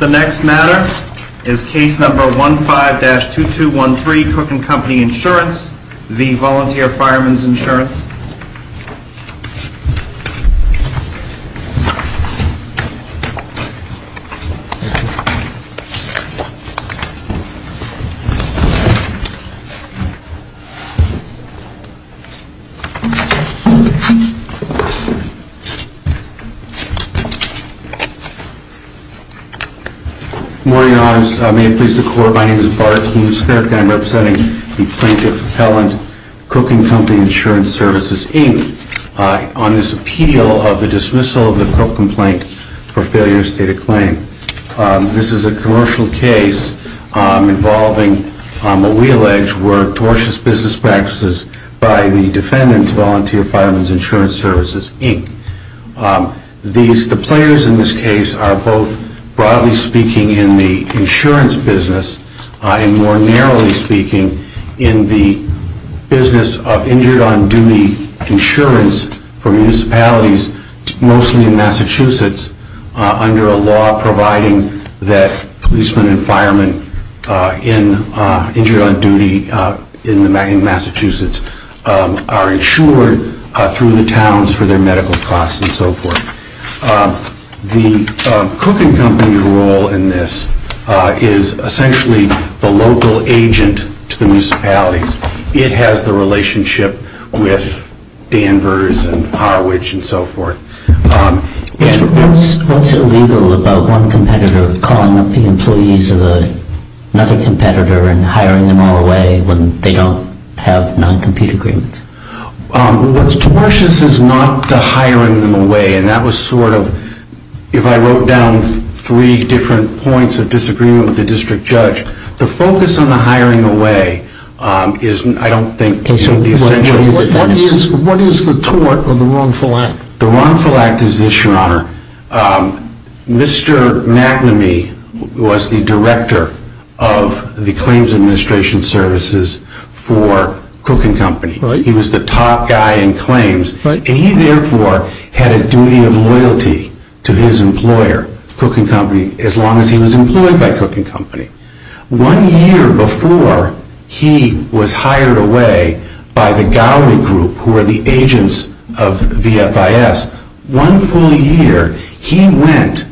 The next matter is Case No. 15-2213, Cook & Co. Insurance v. Volunteer Firemen's Insurance. Good morning, Your Honors. May it please the Court, my name is Bart Keemstrup and I'm representing the Plaintiff Appellant, Cook & Co. Insurance Services, Inc. on this appeal of the dismissal of the pro-complaint for failure to state a claim. This is a commercial case involving what we allege were tortious business practices by the defendants, Volunteer Firemen's Insurance Services, Inc. The players in this case are both broadly speaking in the insurance business and more narrowly speaking in the business of injured on duty insurance for municipalities, mostly in Massachusetts, under a law providing that policemen and firemen injured on duty in Massachusetts are insured through the towns for their medical costs and so forth. The Cook & Co. role in this is essentially the local agent to the municipalities. It has the relationship with Danvers and Harwich and so forth. What's illegal about one competitor calling up the employees of another competitor and hiring them all away when they don't have non-compete agreements? What's tortious is not the hiring them away and that was sort of, if I wrote down three different points of disagreement with the district judge, the focus on the hiring away is I don't think the essential. What is the tort of the wrongful act? The wrongful act is this, Your Honor. Mr. McNamee was the director of the Claims Administration Services for Cook & Co. He was the top guy in claims and he therefore had a duty of loyalty to his employer, Cook & Co., as long as he was employed by Cook & Co. One year before he was hired away by the Gowrie Group, who are the agents of VFIS, one full year he went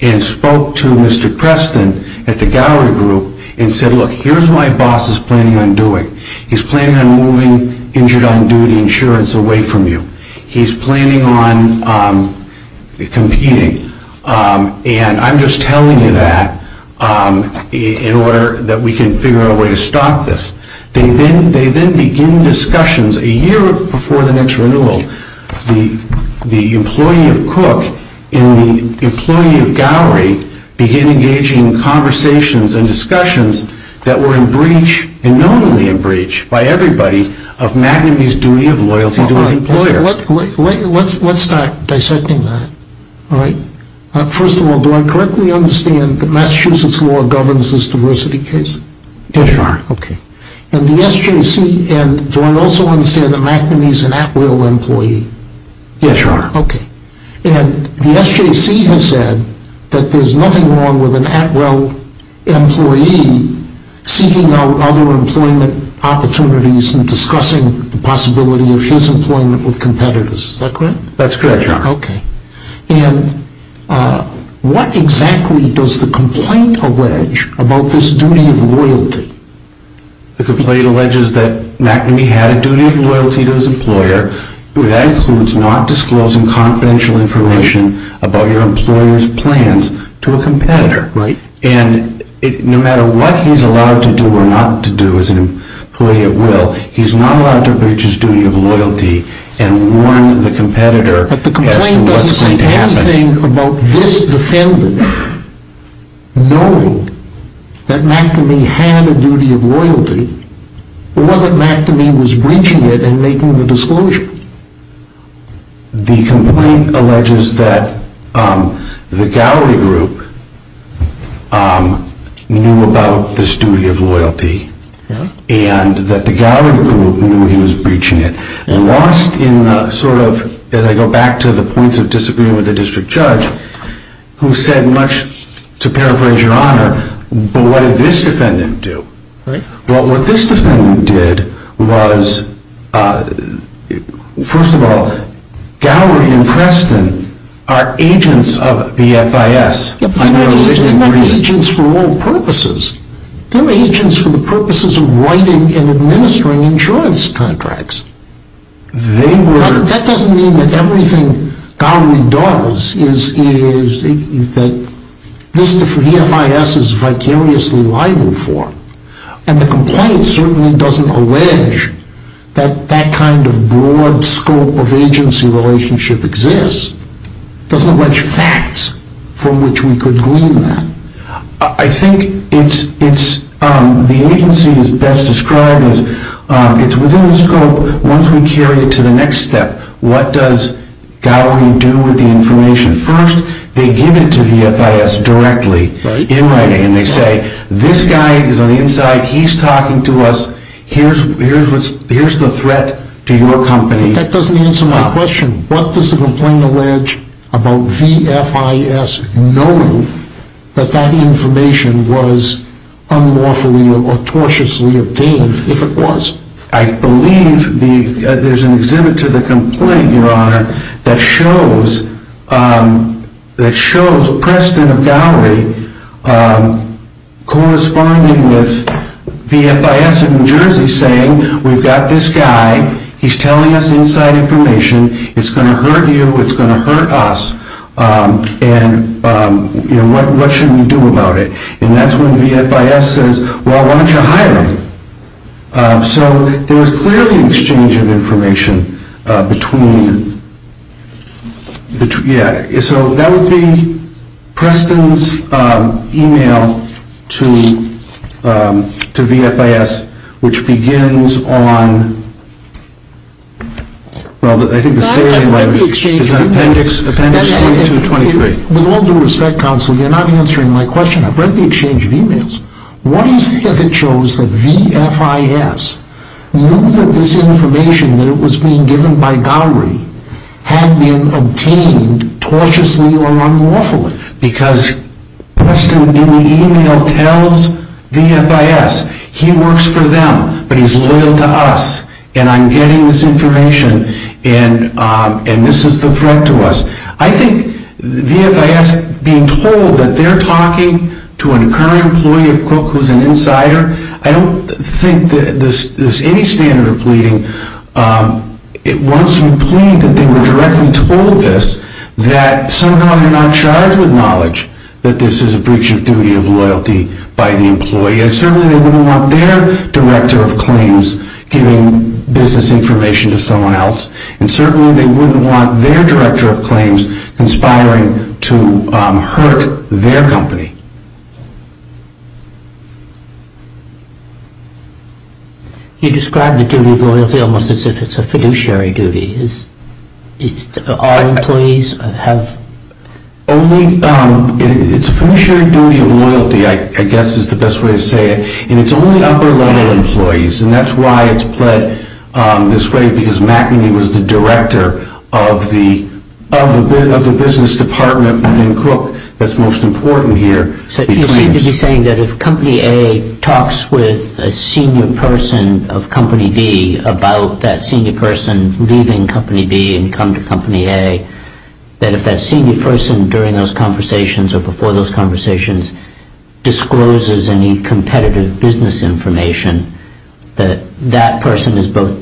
and spoke to Mr. Preston at the Gowrie Group and said, Look, here's what my boss is planning on doing. He's planning on moving injured on-duty insurance away from you. He's planning on competing and I'm just telling you that in order that we can figure out a way to stop this. They then begin discussions a year before the next renewal. The employee of Cook and the employee of Gowrie began engaging in conversations and discussions that were in breach, and normally in breach, by everybody of McNamee's duty of loyalty to his employer. Let's start dissecting that. First of all, do I correctly understand that Massachusetts law governs this diversity case? Yes, you are. Do I also understand that McNamee is an Atwill employee? Yes, you are. The SJC has said that there's nothing wrong with an Atwill employee seeking out other employment opportunities and discussing the possibility of his employment with competitors. Is that correct? That's correct, you are. What exactly does the complaint allege about this duty of loyalty? The complaint alleges that McNamee had a duty of loyalty to his employer. That includes not disclosing confidential information about your employer's plans to a competitor. Right. And no matter what he's allowed to do or not to do as an employee at will, he's not allowed to breach his duty of loyalty and warn the competitor as to what's going to happen. But the complaint doesn't say anything about this defendant knowing that McNamee had a duty of loyalty or that McNamee was breaching it and making the disclosure. The complaint alleges that the Gowrie Group knew about this duty of loyalty and that the Gowrie Group knew he was breaching it. As I go back to the points of disagreement with the district judge, who said much to paraphrase your honor, but what did this defendant do? Well, what this defendant did was, first of all, Gowrie and Preston are agents of the FIS. They're agents for all purposes. They're agents for the purposes of writing and administering insurance contracts. That doesn't mean that everything Gowrie does is that the FIS is vicariously liable for. And the complaint certainly doesn't allege that that kind of broad scope of agency relationship exists. It doesn't allege facts from which we could glean that. I think the agency is best described as it's within the scope once we carry it to the next step. What does Gowrie do with the information? First, they give it to the FIS directly in writing. And they say, this guy is on the inside. He's talking to us. Here's the threat to your company. That doesn't answer my question. What does the complaint allege about the FIS knowing that that information was unlawfully or tortiously obtained, if it was? I believe there's an exhibit to the complaint, Your Honor, that shows Preston of Gowrie corresponding with the FIS in New Jersey saying, we've got this guy. He's telling us inside information. It's going to hurt you. It's going to hurt us. And what should we do about it? And that's when VFIS says, well, why don't you hire him? So there's clearly an exchange of information between, yeah. So that would be Preston's email to VFIS, which begins on, well, I think the same thing is in appendix 22 and 23. With all due respect, counsel, you're not answering my question. I've read the exchange of emails. What is there that shows that VFIS knew that this information, that it was being given by Gowrie, had been obtained tortiously or unlawfully? Because Preston in the email tells VFIS, he works for them, but he's loyal to us, and I'm getting this information, and this is the threat to us. I think VFIS being told that they're talking to a current employee of Cook who's an insider, I don't think there's any standard of pleading. Once you plead that they were directly told this, that somehow you're not charged with knowledge that this is a breach of duty of loyalty by the employee. And certainly they wouldn't want their director of claims giving business information to someone else. And certainly they wouldn't want their director of claims conspiring to hurt their company. You described the duty of loyalty almost as if it's a fiduciary duty. All employees have... It's a fiduciary duty of loyalty, I guess is the best way to say it. And it's only upper-level employees, and that's why it's pled this way, because McEnany was the director of the business department within Cook that's most important here. So you seem to be saying that if Company A talks with a senior person of Company B about that senior person leaving Company B and coming to Company A, that if that senior person during those conversations or before those conversations discloses any competitive business information, that that person is both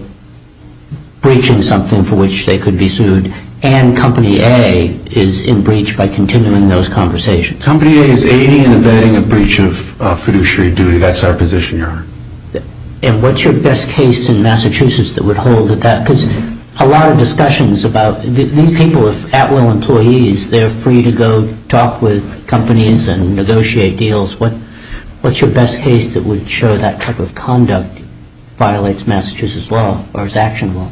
breaching something for which they could be sued and Company A is in breach by continuing those conversations. Company A is aiding and abetting a breach of fiduciary duty. That's our position, Your Honor. And what's your best case in Massachusetts that would hold that? Because a lot of discussions about... These people are at-will employees. They're free to go talk with companies and negotiate deals. What's your best case that would show that type of conduct violates Massachusetts law or is actionable?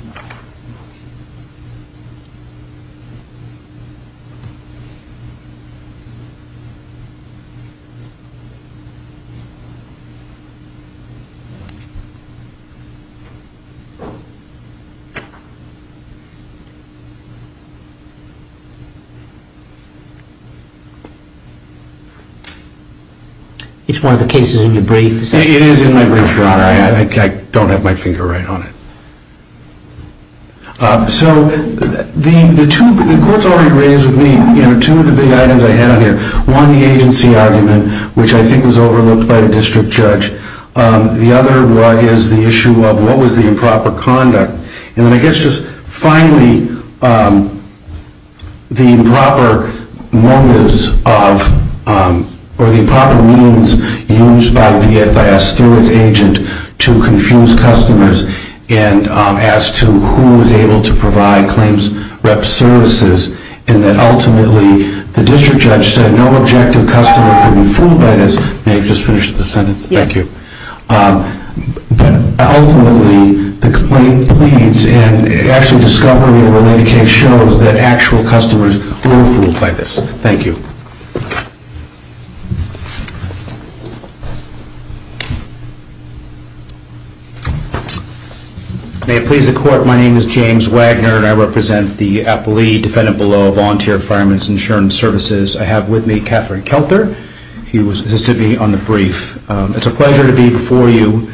It's one of the cases in your brief. It is in my brief, Your Honor. I don't have my finger right on it. So the two... The court's already raised with me two of the big items I have here. One, the agency argument, which I think was overlooked by the district judge. The other one is the issue of what was the improper conduct. And I guess just finally, the improper motives of or the improper means used by VFS through its agent to confuse customers and as to who was able to provide claims rep services and that ultimately the district judge said no objective customer could be fooled by this. May I just finish the sentence? Yes. Thank you. But ultimately, the complaint pleads and actually discovery of a related case shows that actual customers were fooled by this. Thank you. May it please the court, my name is James Wagner and I represent the appellee defendant below volunteer fireman's insurance services. I have with me Catherine Kelter. He assisted me on the brief. It's a pleasure to be before you.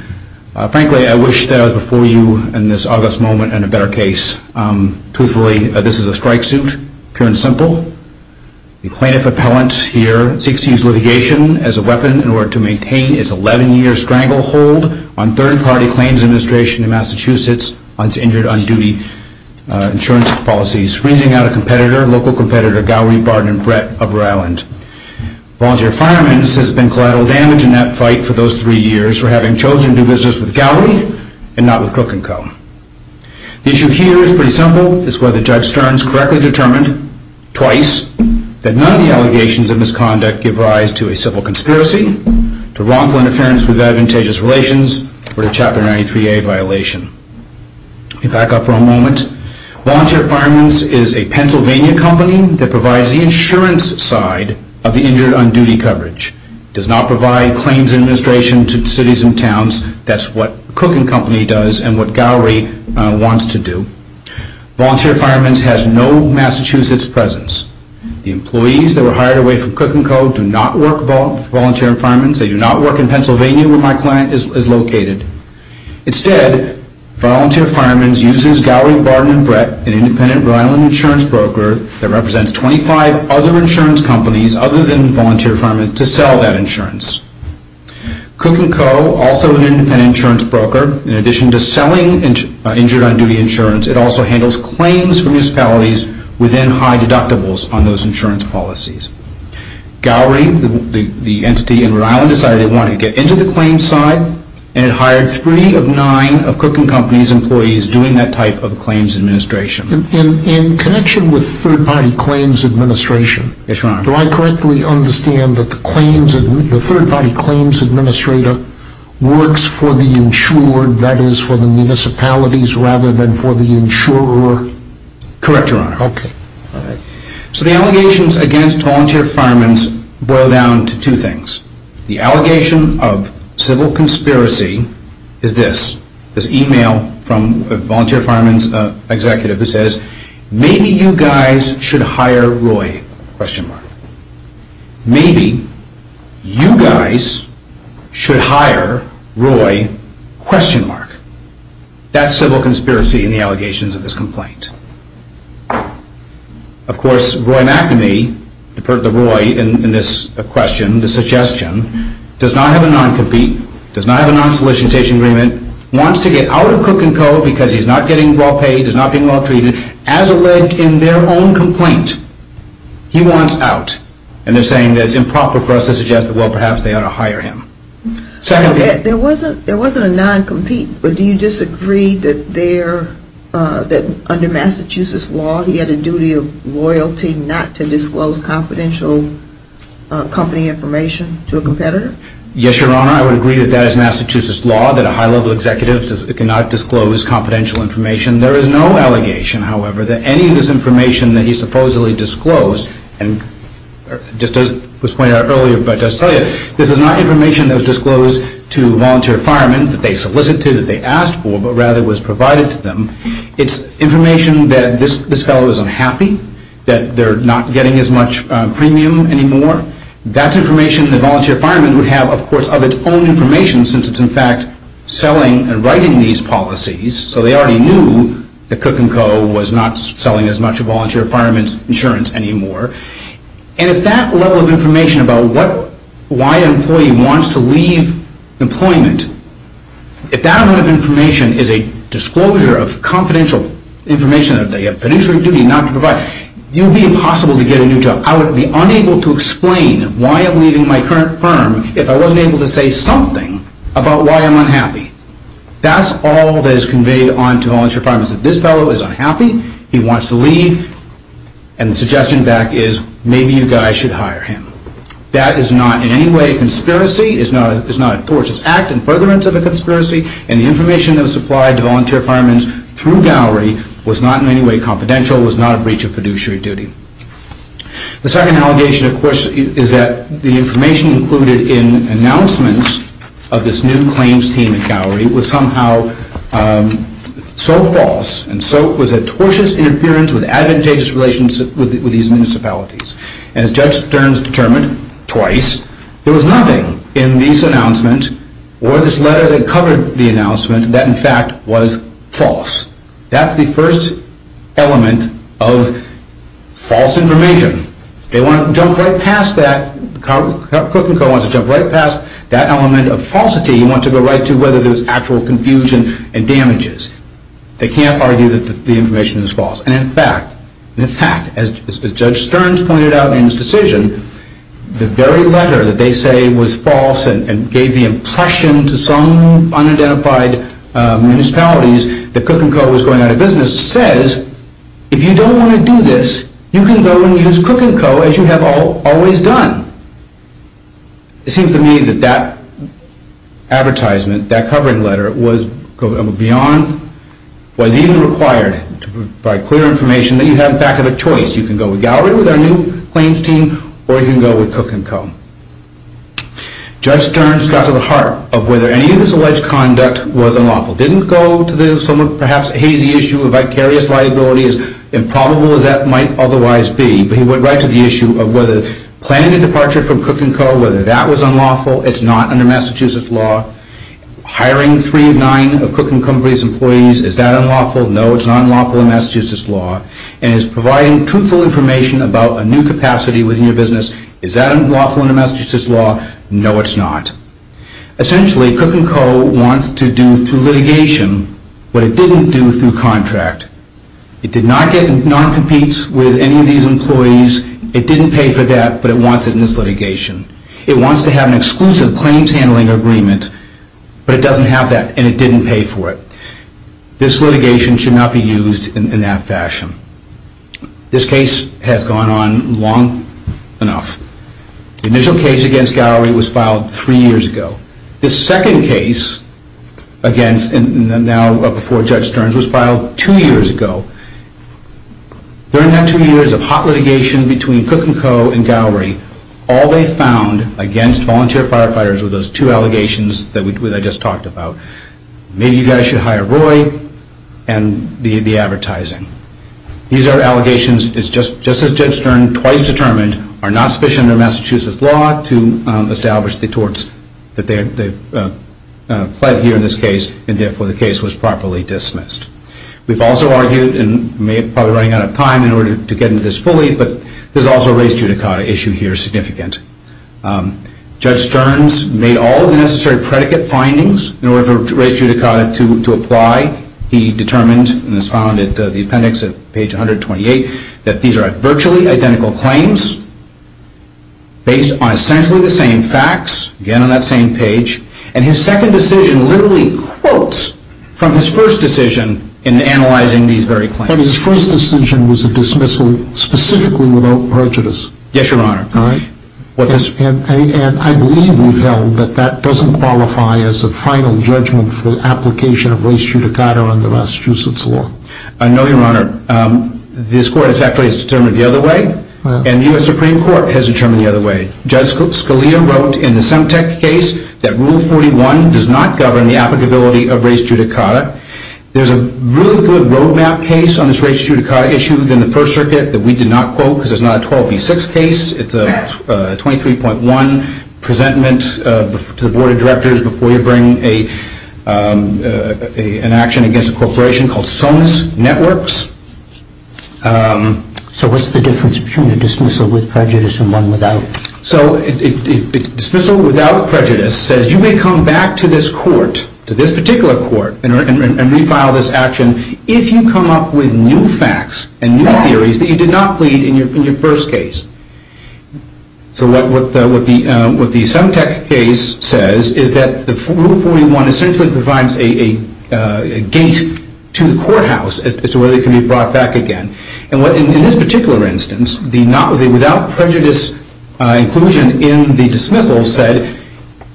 Frankly, I wish that I was before you in this august moment in a better case. Truthfully, this is a strike suit. Pure and simple. The plaintiff appellant here seeks to use litigation as a weapon in order to maintain its 11-year stranglehold on third-party claims administration in Massachusetts on its injured on-duty insurance policies. It's freezing out a competitor, local competitor, Gowrie, Barton, and Brett of Rowland. Volunteer fireman's has been collateral damage in that fight for those three years for having chosen to do business with Gowrie and not with Cook & Co. The issue here is pretty simple. It's whether Judge Stearns correctly determined twice that none of the allegations of misconduct give rise to a civil conspiracy, to wrongful interference with advantageous relations, or to Chapter 93A violation. Let me back up for a moment. Volunteer fireman's is a Pennsylvania company that provides the insurance side of the injured on-duty coverage. It does not provide claims administration to cities and towns. That's what Cook & Co. does and what Gowrie wants to do. Volunteer fireman's has no Massachusetts presence. The employees that were hired away from Cook & Co. do not work for volunteer fireman's. They do not work in Pennsylvania where my client is located. Instead, volunteer fireman's uses Gowrie, Barton, and Brett, an independent Rhode Island insurance broker that represents 25 other insurance companies other than volunteer fireman's, to sell that insurance. Cook & Co., also an independent insurance broker, in addition to selling injured on-duty insurance, it also handles claims from municipalities within high deductibles on those insurance policies. Gowrie, the entity in Rhode Island, decided they wanted to get into the claims side and hired three of nine of Cook & Co.'s employees doing that type of claims administration. In connection with third-party claims administration, do I correctly understand that the third-party claims administrator works for the insured, that is for the municipalities, rather than for the insurer? Correct, Your Honor. So the allegations against volunteer fireman's boil down to two things. The allegation of civil conspiracy is this, this email from a volunteer fireman's executive that says, Maybe you guys should hire Roy? Maybe you guys should hire Roy? That's civil conspiracy in the allegations of this complaint. Of course, Roy McNamee, the Roy in this question, the suggestion, does not have a non-compete, does not have a non-solicitation agreement, wants to get out of Cook & Co. because he's not getting well paid, he's not getting well treated. As alleged in their own complaint, he wants out. And they're saying that it's improper for us to suggest that, well, perhaps they ought to hire him. There wasn't a non-compete, but do you disagree that under Massachusetts law, he had a duty of loyalty not to disclose confidential company information to a competitor? Yes, Your Honor, I would agree that that is Massachusetts law, that a high-level executive cannot disclose confidential information. There is no allegation, however, that any of this information that he supposedly disclosed, and just as was pointed out earlier, but I'll tell you, this is not information that was disclosed to volunteer firemen that they solicited, that they asked for, but rather was provided to them. It's information that this fellow is unhappy, that they're not getting as much premium anymore. That's information that volunteer firemen would have, of course, of its own information, since it's in fact selling and writing these policies. So they already knew that Cook & Co. was not selling as much volunteer firemen's insurance anymore. And if that level of information about why an employee wants to leave employment, if that amount of information is a disclosure of confidential information that they have financial duty not to provide, it would be impossible to get a new job. I would be unable to explain why I'm leaving my current firm if I wasn't able to say something about why I'm unhappy. That's all that is conveyed on to volunteer firemen, that this fellow is unhappy, he wants to leave, and the suggestion back is, maybe you guys should hire him. That is not in any way a conspiracy, it's not a forced act in furtherance of a conspiracy, and the information that was supplied to volunteer firemen through Gowrie was not in any way confidential, was not a breach of fiduciary duty. The second allegation, of course, is that the information included in announcements of this new claims team at Gowrie was somehow so false and so it was a tortuous interference with advantageous relations with these municipalities. And as Judge Stearns determined twice, there was nothing in these announcements or this letter that covered the announcement that in fact was false. That's the first element of false information. They want to jump right past that, Cook & Co. wants to jump right past that element of falsity and want to go right to whether there's actual confusion and damages. They can't argue that the information is false. And in fact, as Judge Stearns pointed out in his decision, the very letter that they say was false and gave the impression to some unidentified municipalities that Cook & Co. was going out of business says, if you don't want to do this, you can go and use Cook & Co. as you have always done. It seems to me that that advertisement, that covering letter, was even required to provide clear information that you have, in fact, a choice. You can go with Gowrie with our new claims team or you can go with Cook & Co. Judge Stearns got to the heart of whether any of this alleged conduct was unlawful. He didn't go to the somewhat, perhaps, hazy issue of vicarious liability, as improbable as that might otherwise be. But he went right to the issue of whether planning a departure from Cook & Co., whether that was unlawful, it's not under Massachusetts law. Hiring three of nine of Cook & Co.'s employees, is that unlawful? No, it's not unlawful in Massachusetts law. And it's providing truthful information about a new capacity within your business. Is that unlawful under Massachusetts law? No, it's not. Essentially, Cook & Co. wants to do, through litigation, what it didn't do through contract. It did not get non-competes with any of these employees. It didn't pay for that, but it wants it in this litigation. It wants to have an exclusive claims handling agreement, but it doesn't have that and it didn't pay for it. This litigation should not be used in that fashion. This case has gone on long enough. The initial case against Gowrie was filed three years ago. The second case against, and now before Judge Stearns, was filed two years ago. During that two years of hot litigation between Cook & Co. and Gowrie, all they found against volunteer firefighters were those two allegations that I just talked about. Maybe you guys should hire Roy and the advertising. These are allegations, just as Judge Stearns twice determined, are not sufficient under Massachusetts law to establish the torts that they've pled here in this case, and therefore the case was properly dismissed. We've also argued, and we're probably running out of time in order to get into this fully, but there's also a race judicata issue here significant. Judge Stearns made all of the necessary predicate findings in order for race judicata to apply. He determined, and it's found in the appendix at page 128, that these are virtually identical claims based on essentially the same facts, again on that same page, and his second decision literally quotes from his first decision in analyzing these very claims. But his first decision was a dismissal specifically without prejudice. Yes, Your Honor. And I believe we've held that that doesn't qualify as a final judgment for the application of race judicata under Massachusetts law. I know, Your Honor. This court has actually determined it the other way, and the U.S. Supreme Court has determined it the other way. Judge Scalia wrote in the Semtec case that Rule 41 does not govern the applicability of race judicata. There's a really good roadmap case on this race judicata issue within the First Circuit that we did not quote because it's not a 12B6 case. It's a 23.1 presentment to the Board of Directors before you bring an action against a corporation called Sonus Networks. So what's the difference between a dismissal with prejudice and one without? So a dismissal without prejudice says you may come back to this court, to this particular court, and refile this action if you come up with new facts and new theories that you did not plead in your first case. So what the Semtec case says is that Rule 41 essentially provides a gate to the courthouse as to whether it can be brought back again. And in this particular instance, the without prejudice inclusion in the dismissal said,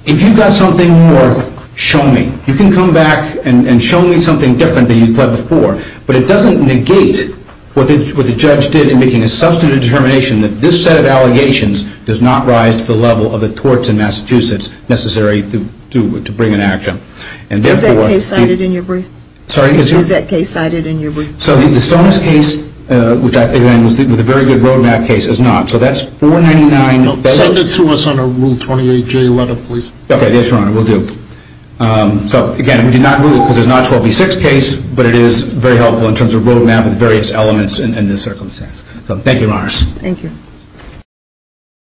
if you've got something more, show me. You can come back and show me something different than you've done before, but it doesn't negate what the judge did in making a substantive determination that this set of allegations does not rise to the level of the courts in Massachusetts necessary to bring an action. Is that case cited in your brief? Sorry? Is that case cited in your brief? So the Sonus case, which I think was a very good roadmap case, is not. So that's 499. Send it to us on a Rule 28J letter, please. Okay, yes, Your Honor. We'll do. So, again, we did not rule it because it's not a 12B6 case, but it is very helpful in terms of a roadmap of various elements in this circumstance. So thank you, Your Honors. Thank you.